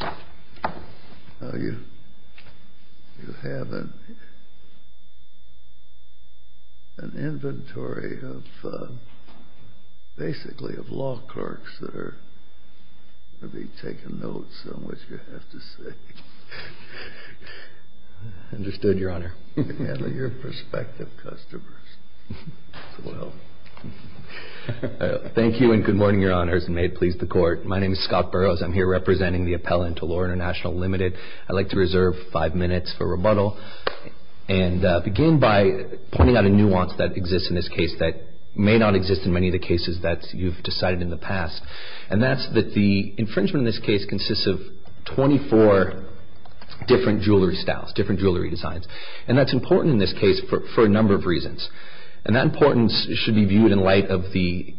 Now you have an inventory of basically of law clerks that are going to be taking notes on what you have to say. Understood, Your Honor. And your prospective customers as well. Thank you and good morning, Your Honors, and may it please the Court. My name is Scott Burrows. I'm here representing the appellant to Lor International, Ltd. I'd like to reserve five minutes for rebuttal and begin by pointing out a nuance that exists in this case that may not exist in many of the cases that you've decided in the past. And that's that the infringement in this case consists of 24 different jewelry styles, different jewelry designs. And that's important in this case for a number of reasons. And that importance should be viewed in light of the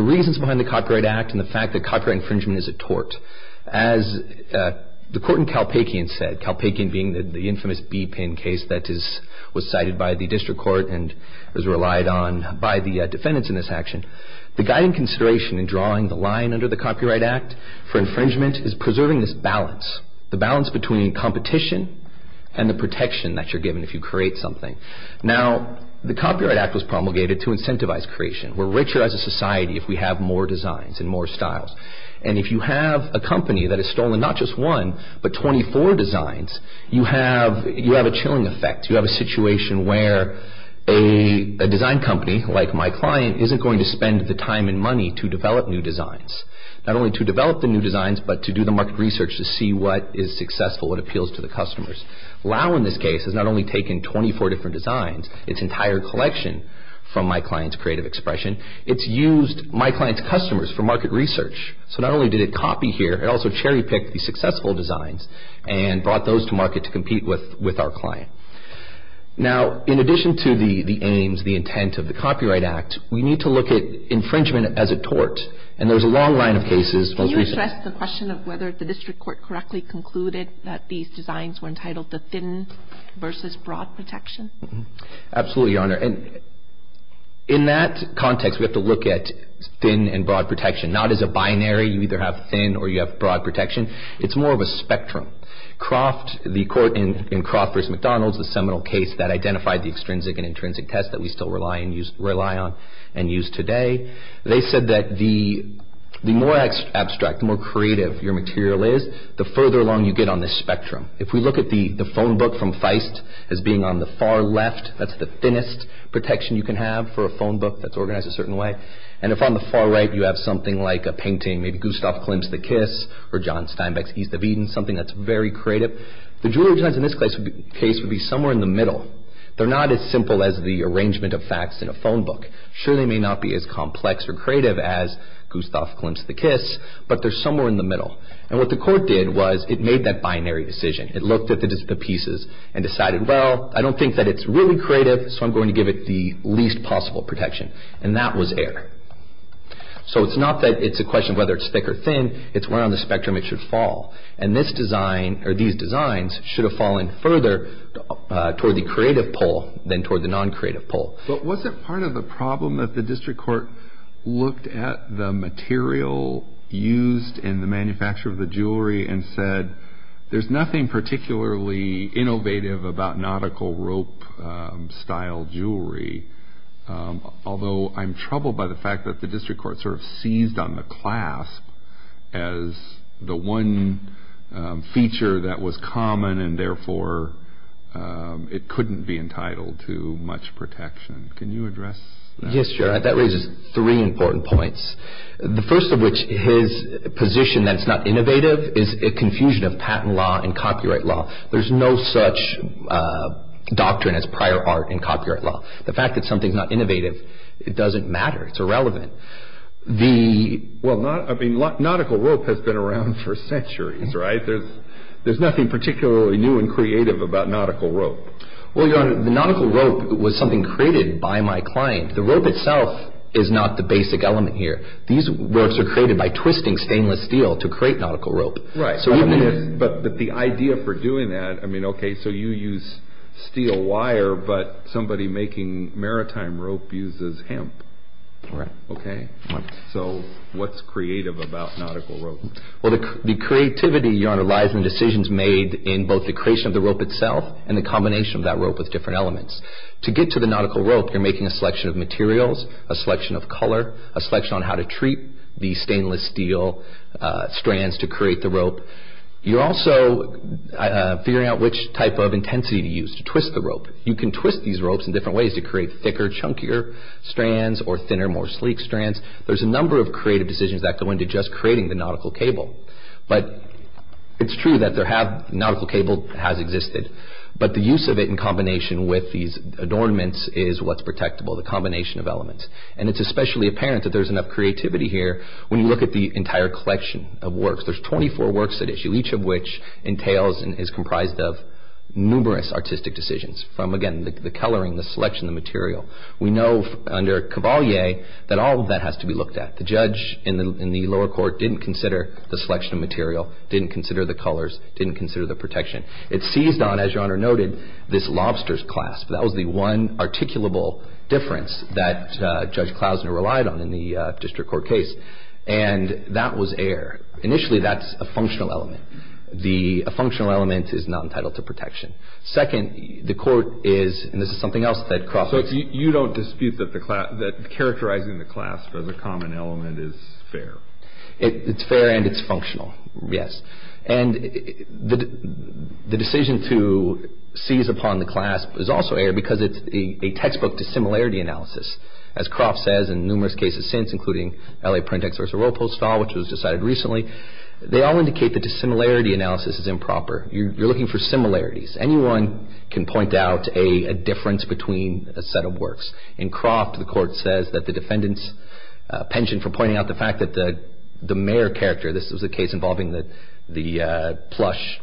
reasons behind the Copyright Act and the fact that copyright infringement is a tort. As the Court in Calpacian said, Calpacian being the infamous B-pin case that was cited by the District Court and was relied on by the defendants in this action, the guiding consideration in drawing the line under the Copyright Act for infringement is preserving this balance. The balance between competition and the protection that you're given if you create something. Now, the Copyright Act was promulgated to incentivize creation. We're richer as a society if we have more designs and more styles. And if you have a company that has stolen not just one, but 24 designs, you have a chilling effect. You have a situation where a design company like my client isn't going to spend the time and money to develop new designs. Not only to develop the new designs, but to do the market research to see what is successful, what appeals to the customers. Lau, in this case, has not only taken 24 different designs, its entire collection from my client's creative expression, it's used my client's customers for market research. So not only did it copy here, it also cherry-picked the successful designs and brought those to market to compete with our client. Now, in addition to the aims, the intent of the Copyright Act, we need to look at infringement as a tort. And there's a long line of cases. Can you address the question of whether the district court correctly concluded that these designs were entitled to thin versus broad protection? Absolutely, Your Honor. And in that context, we have to look at thin and broad protection. Not as a binary, you either have thin or you have broad protection. It's more of a spectrum. Croft, the court in Croft v. McDonald's, the seminal case that identified the extrinsic and intrinsic test that we still rely on and use today, they said that the more abstract, the more creative your material is, the further along you get on this spectrum. If we look at the phone book from Feist as being on the far left, that's the thinnest protection you can have for a phone book that's organized a certain way. And if on the far right you have something like a painting, maybe Gustav Klimt's The Kiss or John Steinbeck's East of Eden, something that's very creative, the jewelry designs in this case would be somewhere in the middle. They're not as simple as the arrangement of facts in a phone book. Sure, they may not be as complex or creative as Gustav Klimt's The Kiss, but they're somewhere in the middle. And what the court did was it made that binary decision. It looked at the pieces and decided, well, I don't think that it's really creative, so I'm going to give it the least possible protection. And that was error. So it's not that it's a question of whether it's thick or thin. It's where on the spectrum it should fall. And this design or these designs should have fallen further toward the creative pole than toward the non-creative pole. But was it part of the problem that the district court looked at the material used in the manufacture of the jewelry and said, there's nothing particularly innovative about nautical rope-style jewelry, although I'm troubled by the fact that the district court sort of seized on the clasp as the one feature that was common and therefore it couldn't be entitled to much protection. Can you address that? Yes, your honor. That raises three important points. The first of which, his position that it's not innovative, is a confusion of patent law and copyright law. There's no such doctrine as prior art in copyright law. The fact that something's not innovative, it doesn't matter. It's irrelevant. Well, nautical rope has been around for centuries, right? There's nothing particularly new and creative about nautical rope. Well, your honor, the nautical rope was something created by my client. The rope itself is not the basic element here. These ropes are created by twisting stainless steel to create nautical rope. Right. But the idea for doing that, I mean, okay, so you use steel wire, but somebody making maritime rope uses hemp. Right. Okay. So what's creative about nautical rope? Well, the creativity, your honor, lies in the decisions made in both the creation of the rope itself and the combination of that rope with different elements. To get to the nautical rope, you're making a selection of materials, a selection of color, a selection on how to treat the stainless steel strands to create the rope. You're also figuring out which type of intensity to use to twist the rope. You can twist these ropes in different ways to create thicker, chunkier strands or thinner, more sleek strands. There's a number of creative decisions that go into just creating the nautical cable. But it's true that the nautical cable has existed. But the use of it in combination with these adornments is what's protectable, the combination of elements. And it's especially apparent that there's enough creativity here when you look at the entire collection of works. There's 24 works at issue, each of which entails and is comprised of numerous artistic decisions, from, again, the coloring, the selection of material. We know under Cavalier that all of that has to be looked at. The judge in the lower court didn't consider the selection of material, didn't consider the colors, didn't consider the protection. It seized on, as Your Honor noted, this lobster's clasp. That was the one articulable difference that Judge Klausner relied on in the district court case. And that was air. Initially, that's a functional element. A functional element is not entitled to protection. Second, the court is, and this is something else that Crawford's. You don't dispute that characterizing the clasp as a common element is fair. It's fair and it's functional, yes. And the decision to seize upon the clasp is also air because it's a textbook dissimilarity analysis. As Crawford says in numerous cases since, including L.A. Print-Ex v. Royal Postal, which was decided recently, they all indicate that dissimilarity analysis is improper. You're looking for similarities. Anyone can point out a difference between a set of works. In Croft, the court says that the defendant's penchant for pointing out the fact that the mayor character, this was a case involving the plush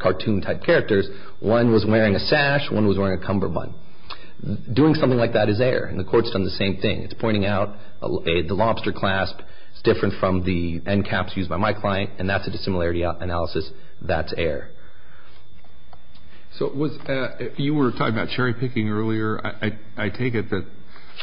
cartoon-type characters, one was wearing a sash, one was wearing a cummerbund. Doing something like that is air, and the court's done the same thing. It's pointing out the lobster clasp is different from the end caps used by my client, and that's a dissimilarity analysis. That's air. So you were talking about cherry-picking earlier. I take it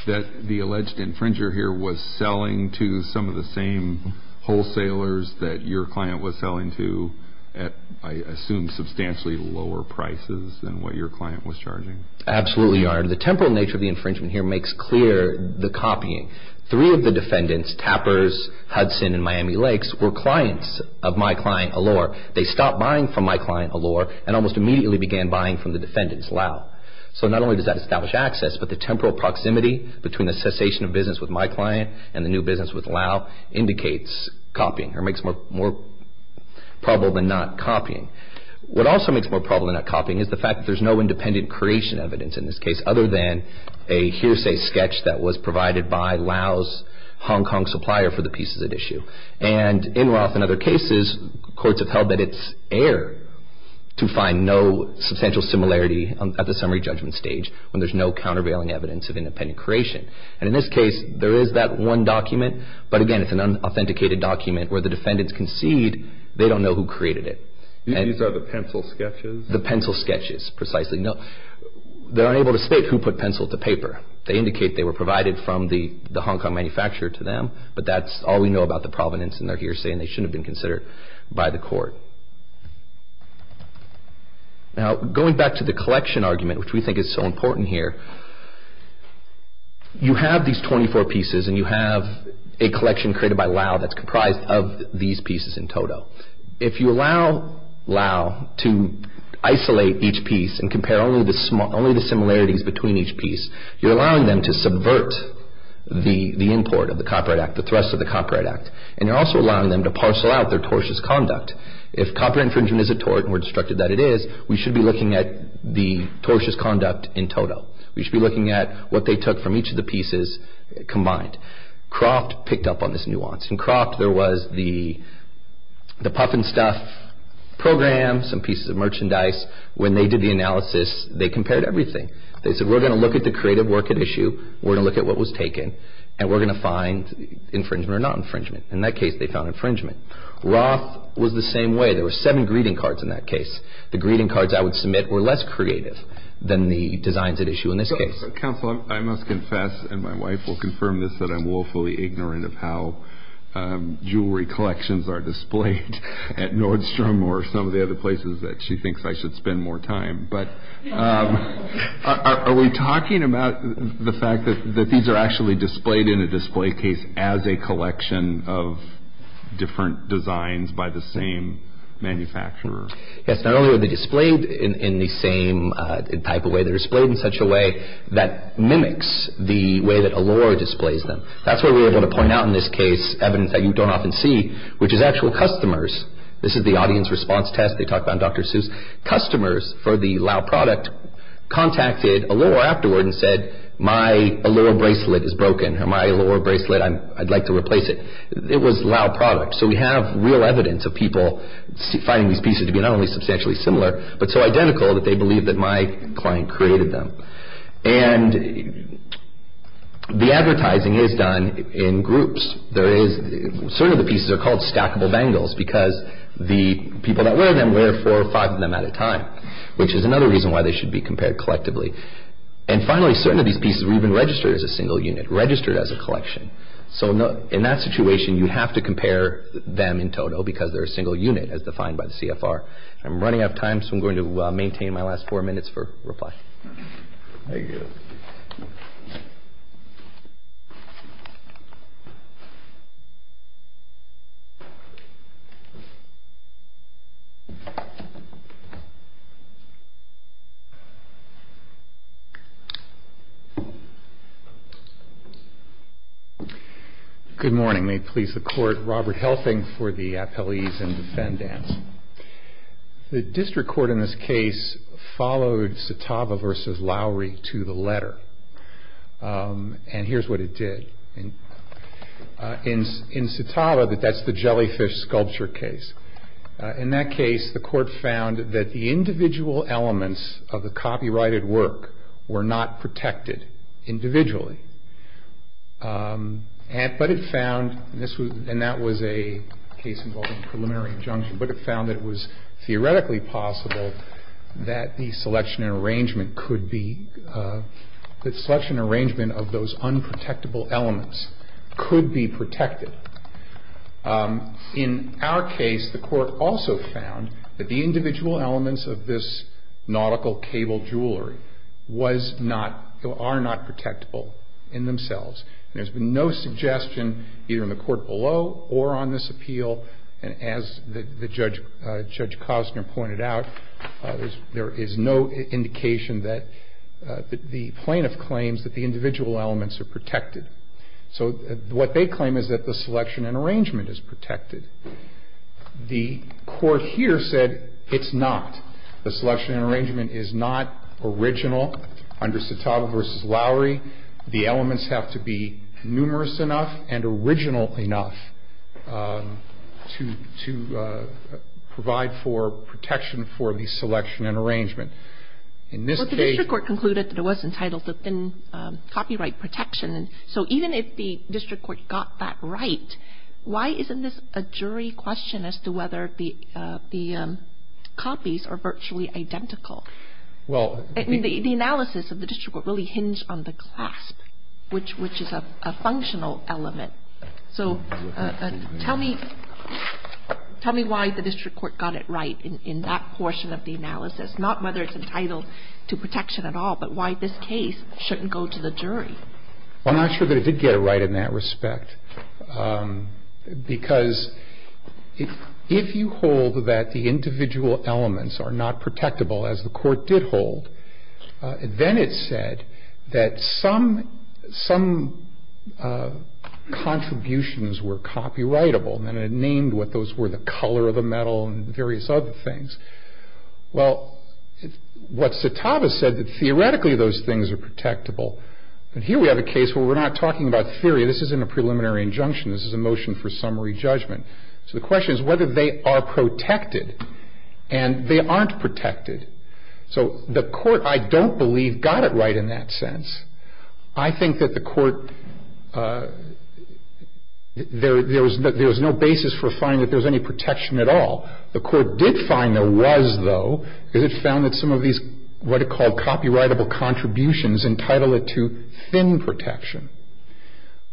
that the alleged infringer here was selling to some of the same wholesalers that your client was selling to at, I assume, substantially lower prices than what your client was charging. Absolutely, Your Honor. The temporal nature of the infringement here makes clear the copying. Three of the defendants, Tappers, Hudson, and Miami Lakes, were clients of my client Allure. They stopped buying from my client Allure and almost immediately began buying from the defendants, Lau. So not only does that establish access, but the temporal proximity between the cessation of business with my client and the new business with Lau indicates copying or makes more probable than not copying. What also makes more probable than not copying is the fact that there's no independent creation evidence in this case other than a hearsay sketch that was provided by Lau's Hong Kong supplier for the pieces at issue. And in Roth and other cases, courts have held that it's air to find no substantial similarity at the summary judgment stage when there's no countervailing evidence of independent creation. And in this case, there is that one document, but again, it's an unauthenticated document where the defendants concede they don't know who created it. These are the pencil sketches? The pencil sketches, precisely. They're unable to state who put pencil to paper. They indicate they were provided from the Hong Kong manufacturer to them, but that's all we know about the provenance in their hearsay and they shouldn't have been considered by the court. Now, going back to the collection argument, which we think is so important here, you have these 24 pieces and you have a collection created by Lau that's comprised of these pieces in total. If you allow Lau to isolate each piece and compare only the similarities between each piece, you're allowing them to subvert the import of the copyright act, the thrust of the copyright act, and you're also allowing them to parcel out their tortious conduct. If copper infringement is a tort and we're instructed that it is, we should be looking at the tortious conduct in total. We should be looking at what they took from each of the pieces combined. Croft picked up on this nuance. In Croft, there was the Puffin Stuff program, some pieces of merchandise. When they did the analysis, they compared everything. They said, we're going to look at the creative work at issue, we're going to look at what was taken, and we're going to find infringement or not infringement. In that case, they found infringement. Roth was the same way. There were seven greeting cards in that case. The greeting cards I would submit were less creative than the designs at issue in this case. Counsel, I must confess, and my wife will confirm this, that I'm woefully ignorant of how jewelry collections are displayed at Nordstrom or some of the other places that she thinks I should spend more time. Are we talking about the fact that these are actually displayed in a display case as a collection of different designs by the same manufacturer? Yes. Not only are they displayed in the same type of way, they're displayed in such a way that mimics the way that Allure displays them. That's why we're able to point out in this case evidence that you don't often see, which is actual customers. This is the audience response test they talked about in Dr. Seuss. Customers for the Lau product contacted Allure afterward and said, my Allure bracelet is broken, or my Allure bracelet, I'd like to replace it. It was Lau product. So we have real evidence of people finding these pieces to be not only substantially similar, but so identical that they believe that my client created them. And the advertising is done in groups. Certain of the pieces are called stackable bangles because the people that wear them wear four or five of them at a time, which is another reason why they should be compared collectively. And finally, certain of these pieces were even registered as a single unit, registered as a collection. So in that situation, you have to compare them in total because they're a single unit as defined by the CFR. I'm running out of time, Thank you. Good morning. May it please the court. Robert Helping for the appellees and defendants. The district court in this case followed Satava versus Lowry to the letter. And here's what it did. In Satava, that's the jellyfish sculpture case. In that case, the court found that the individual elements of the copyrighted work were not protected individually. But it found, and that was a case involving preliminary injunction, but it found that it was theoretically possible that the selection and arrangement could be, that selection and arrangement of those unprotectable elements could be protected. In our case, the court also found that the individual elements of this nautical cable jewelry was not, or are not protectable in themselves. And there's been no suggestion either in the court below or on this appeal. And as Judge Costner pointed out, there is no indication that the plaintiff claims that the individual elements are protected. So what they claim is that the selection and arrangement is protected. The court here said it's not. The selection and arrangement is not original. Under Satava versus Lowry, the elements have to be numerous enough and original enough to provide for protection for the selection and arrangement. In this case... Well, the district court concluded that it was entitled to thin copyright protection. So even if the district court got that right, why isn't this a jury question as to whether the copies are virtually identical? Well... The analysis of the district court really hinged on the clasp, which is a functional element. So tell me why the district court got it right in that portion of the analysis, not whether it's entitled to protection at all, but why this case shouldn't go to the jury. Well, I'm not sure that it did get it right in that respect. Because if you hold that the individual elements are not protectable, as the court did hold, then it said that some contributions were copyrightable. And it named what those were, the color of the metal and various other things. Well, what Satava said, that theoretically those things are protectable. But here we have a case where we're not talking about theory. This isn't a preliminary injunction. This is a motion for summary judgment. So the question is whether they are protected. And they aren't protected. So the court, I don't believe, got it right in that sense. I think that the court... There was no basis for finding that there was any protection at all. The court did find there was, though, because it found that some of these what it called copyrightable contributions entitled it to thin protection.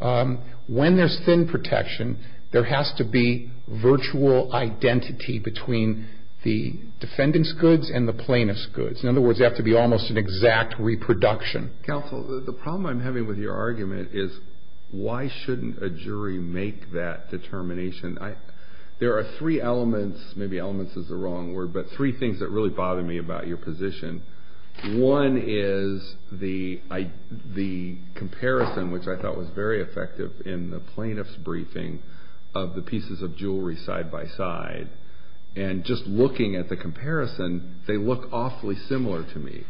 When there's thin protection, there has to be virtual identity between the defendant's goods and the plaintiff's goods. In other words, there has to be almost an exact reproduction. Counsel, the problem I'm having with your argument is why shouldn't a jury make that determination? There are three elements, maybe elements is the wrong word, but three things that really bother me about your position. One is the comparison, which I thought was very effective in the plaintiff's briefing of the pieces of jewelry side by side. And just looking at the comparison, they look awfully similar to me.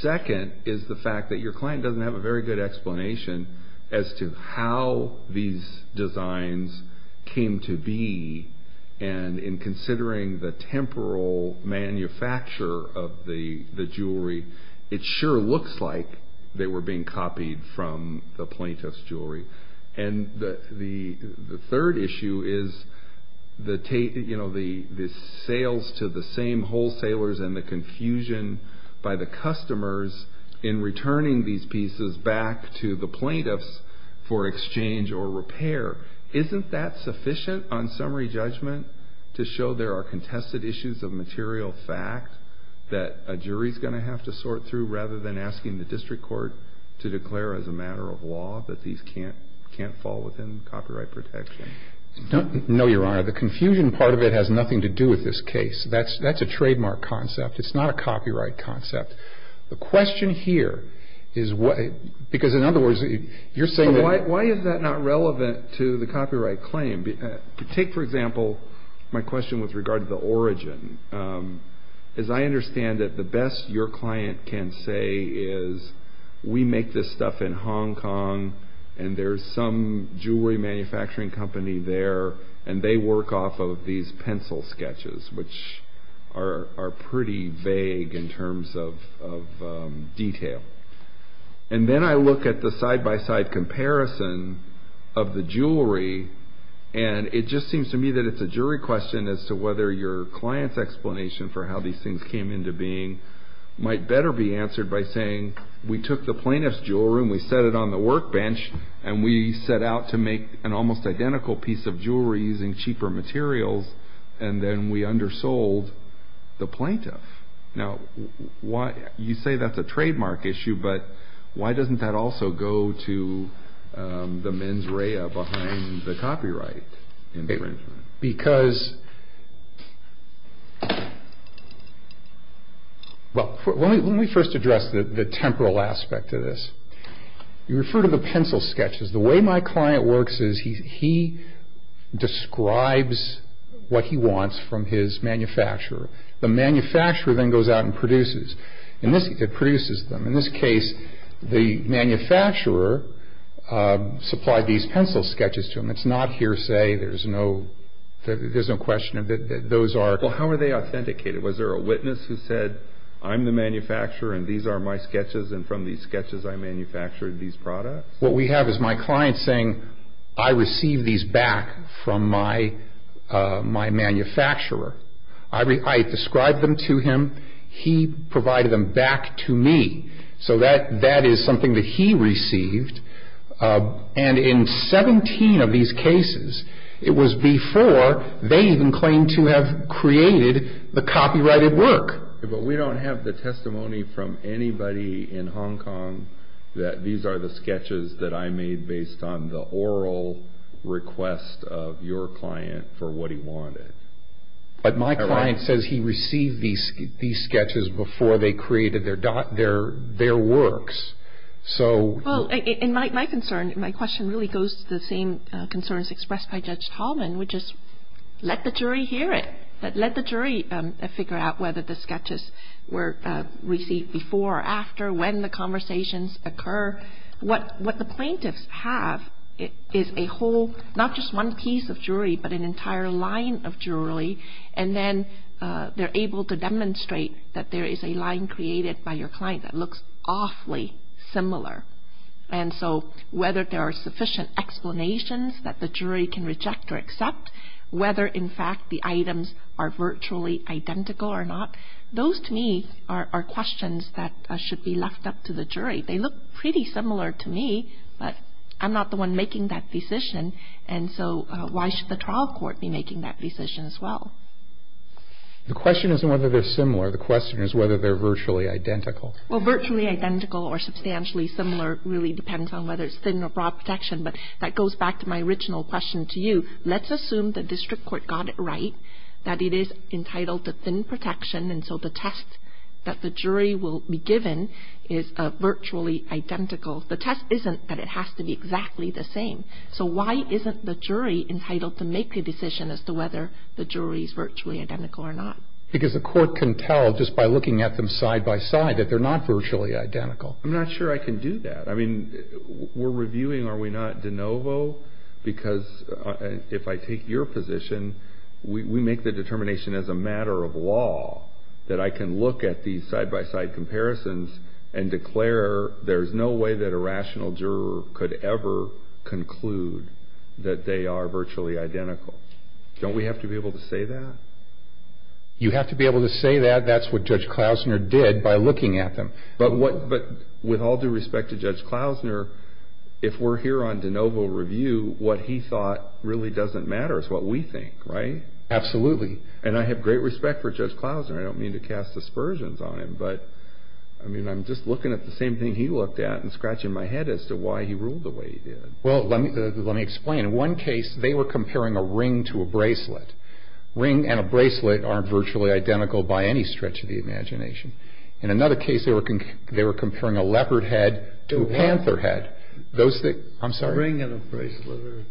Second is the fact that your client doesn't have a very good explanation as to how these designs came to be. And in considering the temporal manufacture of the jewelry, it sure looks like they were being copied from the plaintiff's jewelry. And the third issue is the sales to the same wholesalers and the confusion by the customers in returning these pieces back to the plaintiffs for exchange or repair. Isn't that sufficient on summary judgment to show there are contested issues of material fact that a jury's going to have to sort through rather than asking the district court to declare as a matter of law that these can't fall within copyright protection? No, Your Honor. The confusion part of it has nothing to do with this case. That's a trademark concept. It's not a copyright concept. The question here is what... Because in other words, you're saying that... Why is that not relevant to the copyright claim? Take, for example, my question with regard to the origin. As I understand it, the best your client can say is we make this stuff in Hong Kong and there's some jewelry manufacturing company there and they work off of these pencil sketches which are pretty vague in terms of detail. And then I look at the side-by-side comparison of the jewelry and it just seems to me that it's a jury question as to whether your client's explanation for how these things came into being might better be answered by saying we took the plaintiff's jewelry and we set it on the workbench and we set out to make an almost identical piece of jewelry using cheaper materials and then we undersold the plaintiff. Now, you say that's a trademark issue but why doesn't that also go to the mens rea behind the copyright infringement? Because... Well, let me first address the temporal aspect of this. You refer to the pencil sketches. The way my client works is he describes what he wants from his manufacturer. The manufacturer then goes out and produces them. In this case, the manufacturer supplied these pencil sketches to him. It's not hearsay. There's no question that those are... Well, how are they authenticated? Was there a witness who said I'm the manufacturer and these are my sketches and from these sketches I manufactured these products? What we have is my client saying I received these back from my manufacturer. I described them to him. He provided them back to me. So that is something that he received. And in 17 of these cases it was before they even claimed to have created the copyrighted work. But we don't have the testimony from anybody in Hong Kong that these are the sketches that I made based on the oral request of your client for what he wanted. But my client says he received these sketches before they created their works. Well, in my concern, my question really goes to the same concerns expressed by Judge Tallman, which is let the jury hear it. Let the jury figure out whether the sketches were received before or after, when the conversations occur. What the plaintiffs have is a whole, not just one piece of jewelry, but an entire line of jewelry and then they're able to demonstrate that there is a line created by your client that looks awfully similar. And so whether there are sufficient explanations that the jury can reject or accept, whether in fact the items are virtually identical or not, those to me are questions that should be left up to the jury. They look pretty similar to me, but I'm not the one making that decision and so why should the trial court be making that decision as well? The question isn't whether they're similar. The question is whether they're virtually identical. Well, virtually identical or substantially similar really depends on whether it's thin or broad protection, but that goes back to my original question to you. Let's assume the district court got it right, that it is entitled to thin protection and so the test that the jury will be given is virtually identical. The test isn't that it has to be exactly the same. So why isn't the jury entitled to make the decision as to whether the jewelry is virtually identical or not? Because the court can tell just by looking at them side-by-side that they're not virtually identical. I'm not sure I can do that. I mean, we're reviewing, are we not, de novo? Because if I take your position, we make the determination as a matter of law that I can look at these side-by-side comparisons and declare there's no way that a rational juror could ever conclude that they are virtually identical. Don't we have to be able to say that? You have to be able to say that. That's what Judge Klausner did by looking at them. But with all due respect to Judge Klausner, if we're here on de novo review, what he thought really doesn't matter is what we think, right? Absolutely. And I have great respect for Judge Klausner. I don't mean to cast aspersions on him, but I'm just looking at the same thing he looked at and scratching my head as to why he ruled the way he did. Well, let me explain. In one case, they were comparing a ring to a bracelet. A ring and a bracelet aren't virtually identical by any stretch of the imagination. In another case, they were comparing a leopard head to a panther head. A ring and a bracelet are...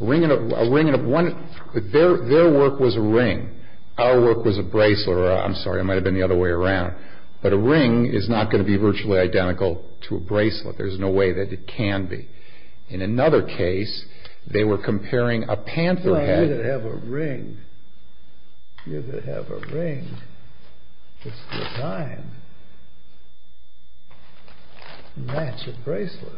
A ring and a... Their work was a ring. Our work was a bracelet. I'm sorry, I might have been the other way around. But a ring is not going to be virtually identical to a bracelet. There's no way that it can be. In another case, they were comparing a panther head... Well, you could have a ring. You could have a ring that's designed to match a bracelet.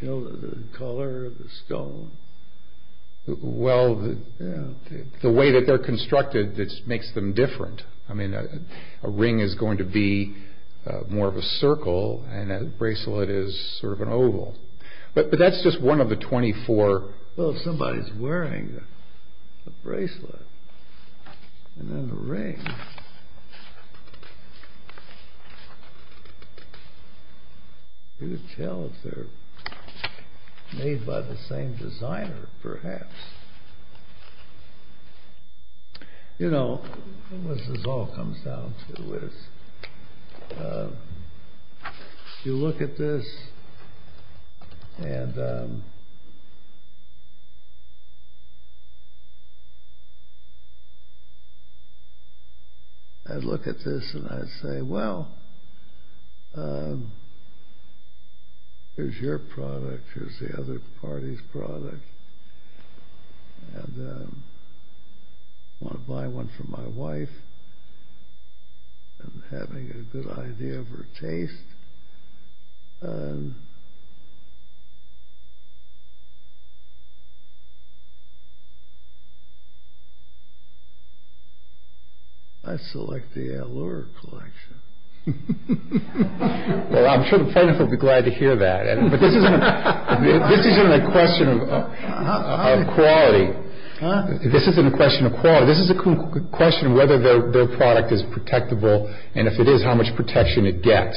You know, the color of the stone. Well, the way that they're constructed makes them different. I mean, a ring is going to be more of a circle and a bracelet is sort of an oval. But that's just one of the 24... Well, if somebody's wearing a bracelet and then a ring... You could tell if they're made by the same designer, perhaps. You know, what this all comes down to is... You look at this and... I'd look at this and I'd say, Well, here's your product. Here's the other party's product. And I want to buy one for my wife. I'm having a good idea of her taste. I'd select the Allure collection. Well, I'm sure the plaintiff will be glad to hear that. But this isn't a question of quality. This isn't a question of quality. It's a question of whether their product is protectable and if it is, how much protection it gets.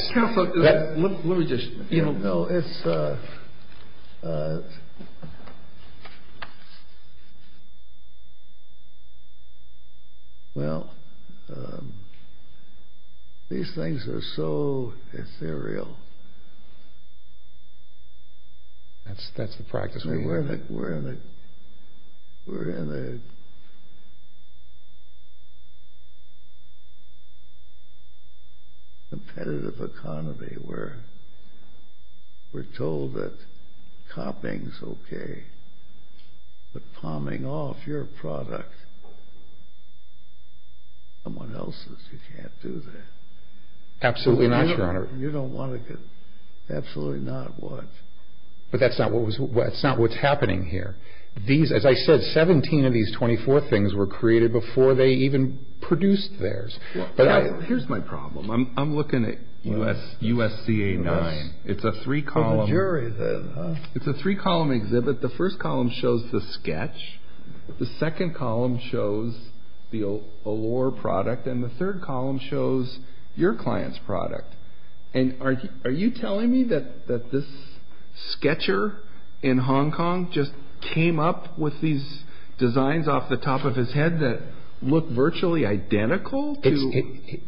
Let me just... Well, these things are so ethereal. That's the practice we use. We're in a competitive economy. We're told that copying's okay, but palming off your product to someone else's, you can't do that. Absolutely not, Your Honor. You don't want to get... Absolutely not what? But that's not what's happening here. As I said, 17 of these 24 things were created before they even produced theirs. Here's my problem. I'm looking at USCA 9. It's a three-column... It's a three-column exhibit. The first column shows the sketch. The second column shows the Allure product. And the third column shows your client's product. And are you telling me that this sketcher in Hong Kong just came up with these designs off the top of his head that look virtually identical to...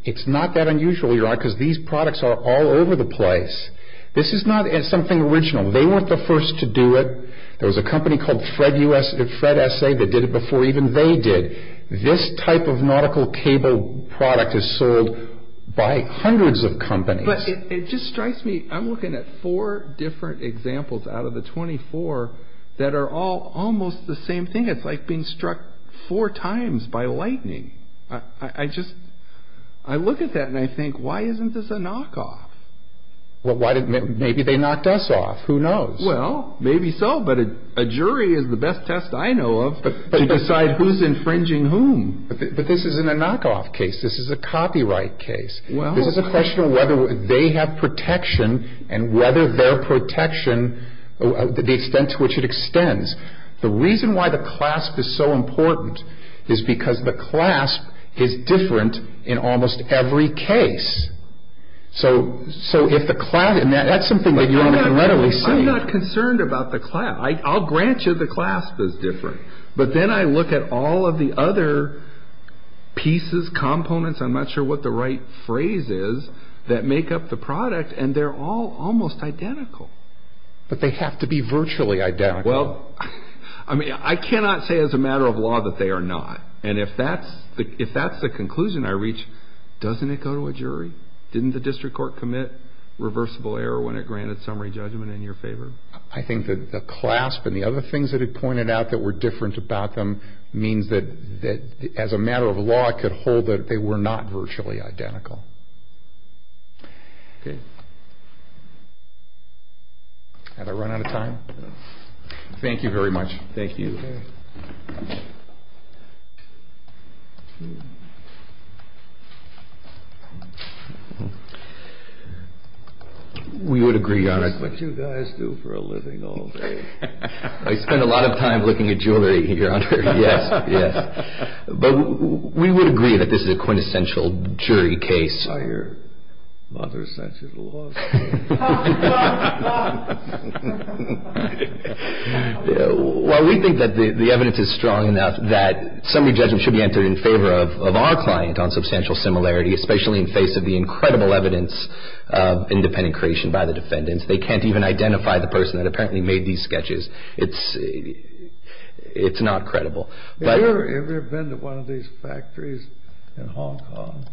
It's not that unusual, Your Honor, because these products are all over the place. This is not something original. They weren't the first to do it. There was a company called FredSA that did it before even they did. This type of nautical cable product is sold by hundreds of companies. But it just strikes me... I'm looking at four different examples out of the 24 that are all almost the same thing. It's like being struck four times by lightning. I just... I look at that and I think, why isn't this a knockoff? Well, maybe they knocked us off. Who knows? Well, maybe so. But a jury is the best test I know of to decide who's infringing whom. But this isn't a knockoff case. This is a copyright case. This is a question of whether they have protection and whether their protection... the extent to which it extends. The reason why the clasp is so important is because the clasp is different in almost every case. So if the clasp... That's something that Your Honor can readily see. I'm not concerned about the clasp. I'll grant you the clasp is different. But then I look at all of the other pieces, components, I'm not sure what the right phrase is, that make up the product, and they're all almost identical. But they have to be virtually identical. Well, I mean, I cannot say as a matter of law that they are not. And if that's the conclusion I reach, doesn't it go to a jury? Didn't the district court commit reversible error when it granted summary judgment in your favor? I think that the clasp and the other things that it pointed out that were different about them means that as a matter of law I could hold that they were not virtually identical. Had I run out of time? Thank you very much. Thank you. We would agree, Your Honor. This is what you guys do for a living all day. I spend a lot of time looking at jewelry here, Your Honor. Yes, yes. But we would agree that this is a quintessential jury case. I hear mother sent you to law school. Well, we think that the evidence is strong enough that summary judgment should be entered in favor of our client on substantial similarity, especially in face of the incredible evidence of independent creation by the defendants. They can't even identify the person that apparently made these sketches. It's not credible. Have you ever been to one of these factories in Hong Kong?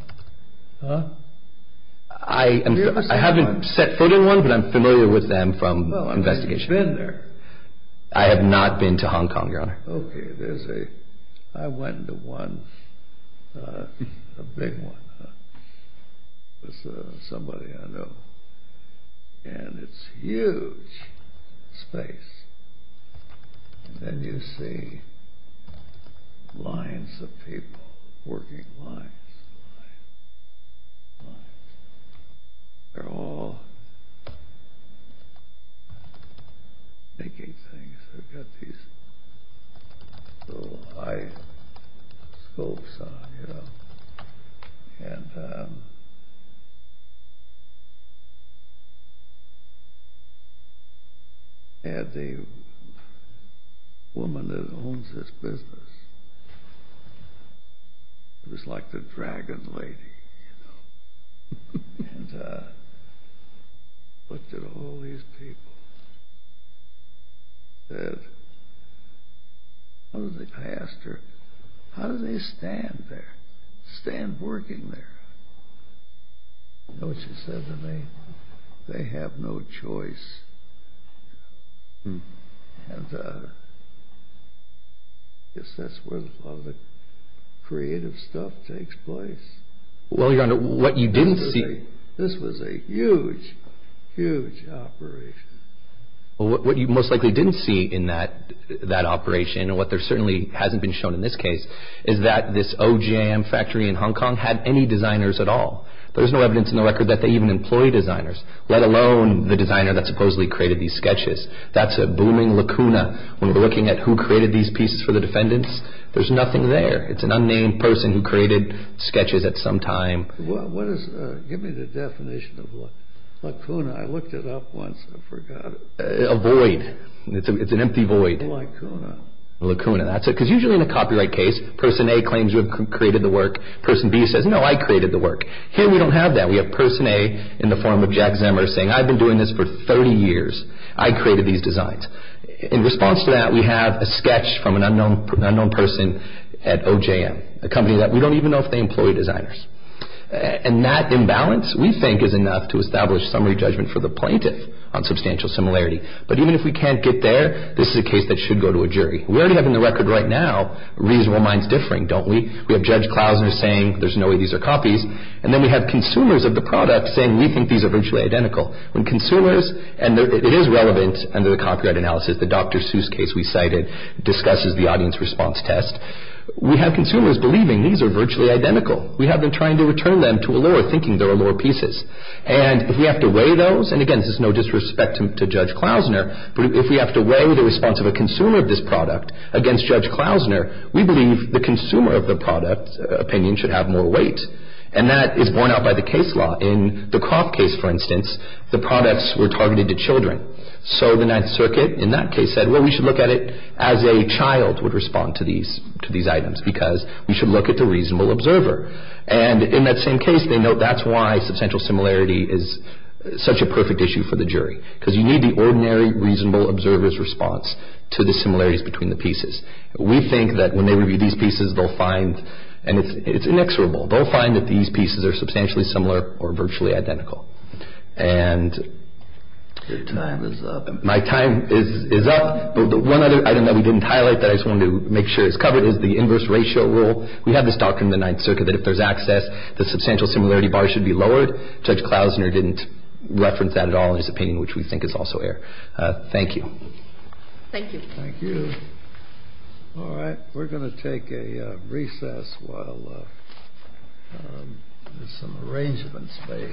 Huh? I haven't set foot in one, but I'm familiar with them from investigation. Well, have you been there? I have not been to Hong Kong, Your Honor. Okay, there's a... I went to one, a big one, with somebody I know, and it's huge space. And then you see lines of people, working lines, lines, lines. They're all making things. They've got these little eye scopes on, you know. And... I had a woman that owns this business. It was like the dragon lady, you know. And looked at all these people. Said... I asked her, how do they stand there, stand working there? You know what she said to me? They have no choice. And... I guess that's where a lot of the creative stuff takes place. Well, Your Honor, what you didn't see... This was a huge, huge operation. What you most likely didn't see in that operation, and what there certainly hasn't been shown in this case, is that this O.J.M. factory in Hong Kong didn't have any designers at all. There's no evidence in the record that they even employed designers, let alone the designer that supposedly created these sketches. That's a booming lacuna. When we're looking at who created these pieces for the defendants, there's nothing there. It's an unnamed person who created sketches at some time. Give me the definition of lacuna. I looked it up once and forgot it. A void. It's an empty void. Lacuna. Lacuna, that's it. Because usually in a copyright case, person A claims you have created the work, person B says, no, I created the work. Here we don't have that. We have person A, in the form of Jack Zemmer, saying, I've been doing this for 30 years. I created these designs. In response to that, we have a sketch from an unknown person at O.J.M., a company that we don't even know if they employ designers. And that imbalance, we think, is enough to establish summary judgment for the plaintiff on substantial similarity. But even if we can't get there, this is a case that should go to a jury. We already have in the record right now, reasonable minds differing, don't we? We have Judge Klausner saying, there's no way these are copies. And then we have consumers of the product saying, we think these are virtually identical. When consumers, and it is relevant under the copyright analysis, the Dr. Seuss case we cited, discusses the audience response test, we have consumers believing these are virtually identical. We have them trying to return them to allure, thinking they're allure pieces. And if we have to weigh those, and again, this is no disrespect to Judge Klausner, but if we have to weigh the response of a consumer of this product against Judge Klausner, we believe the consumer of the product opinion should have more weight. And that is borne out by the case law. In the Koff case, for instance, the products were targeted to children. So the Ninth Circuit in that case said, well, we should look at it as a child would respond to these items because we should look at the reasonable observer. And in that same case, they note that's why substantial similarity is such a perfect issue for the jury because you need the ordinary reasonable observer's response to the similarities between the pieces. We think that when they review these pieces, they'll find, and it's inexorable, they'll find that these pieces are substantially similar or virtually identical. And... Your time is up. My time is up. But one other item that we didn't highlight that I just wanted to make sure is covered is the inverse ratio rule. We have this doctrine in the Ninth Circuit that if there's access, the substantial similarity bar should be lowered. Judge Klausner didn't reference that at all in his opinion, which we think is also air. Thank you. Thank you. Thank you. All right. We're going to take a recess while there's some arrangement space.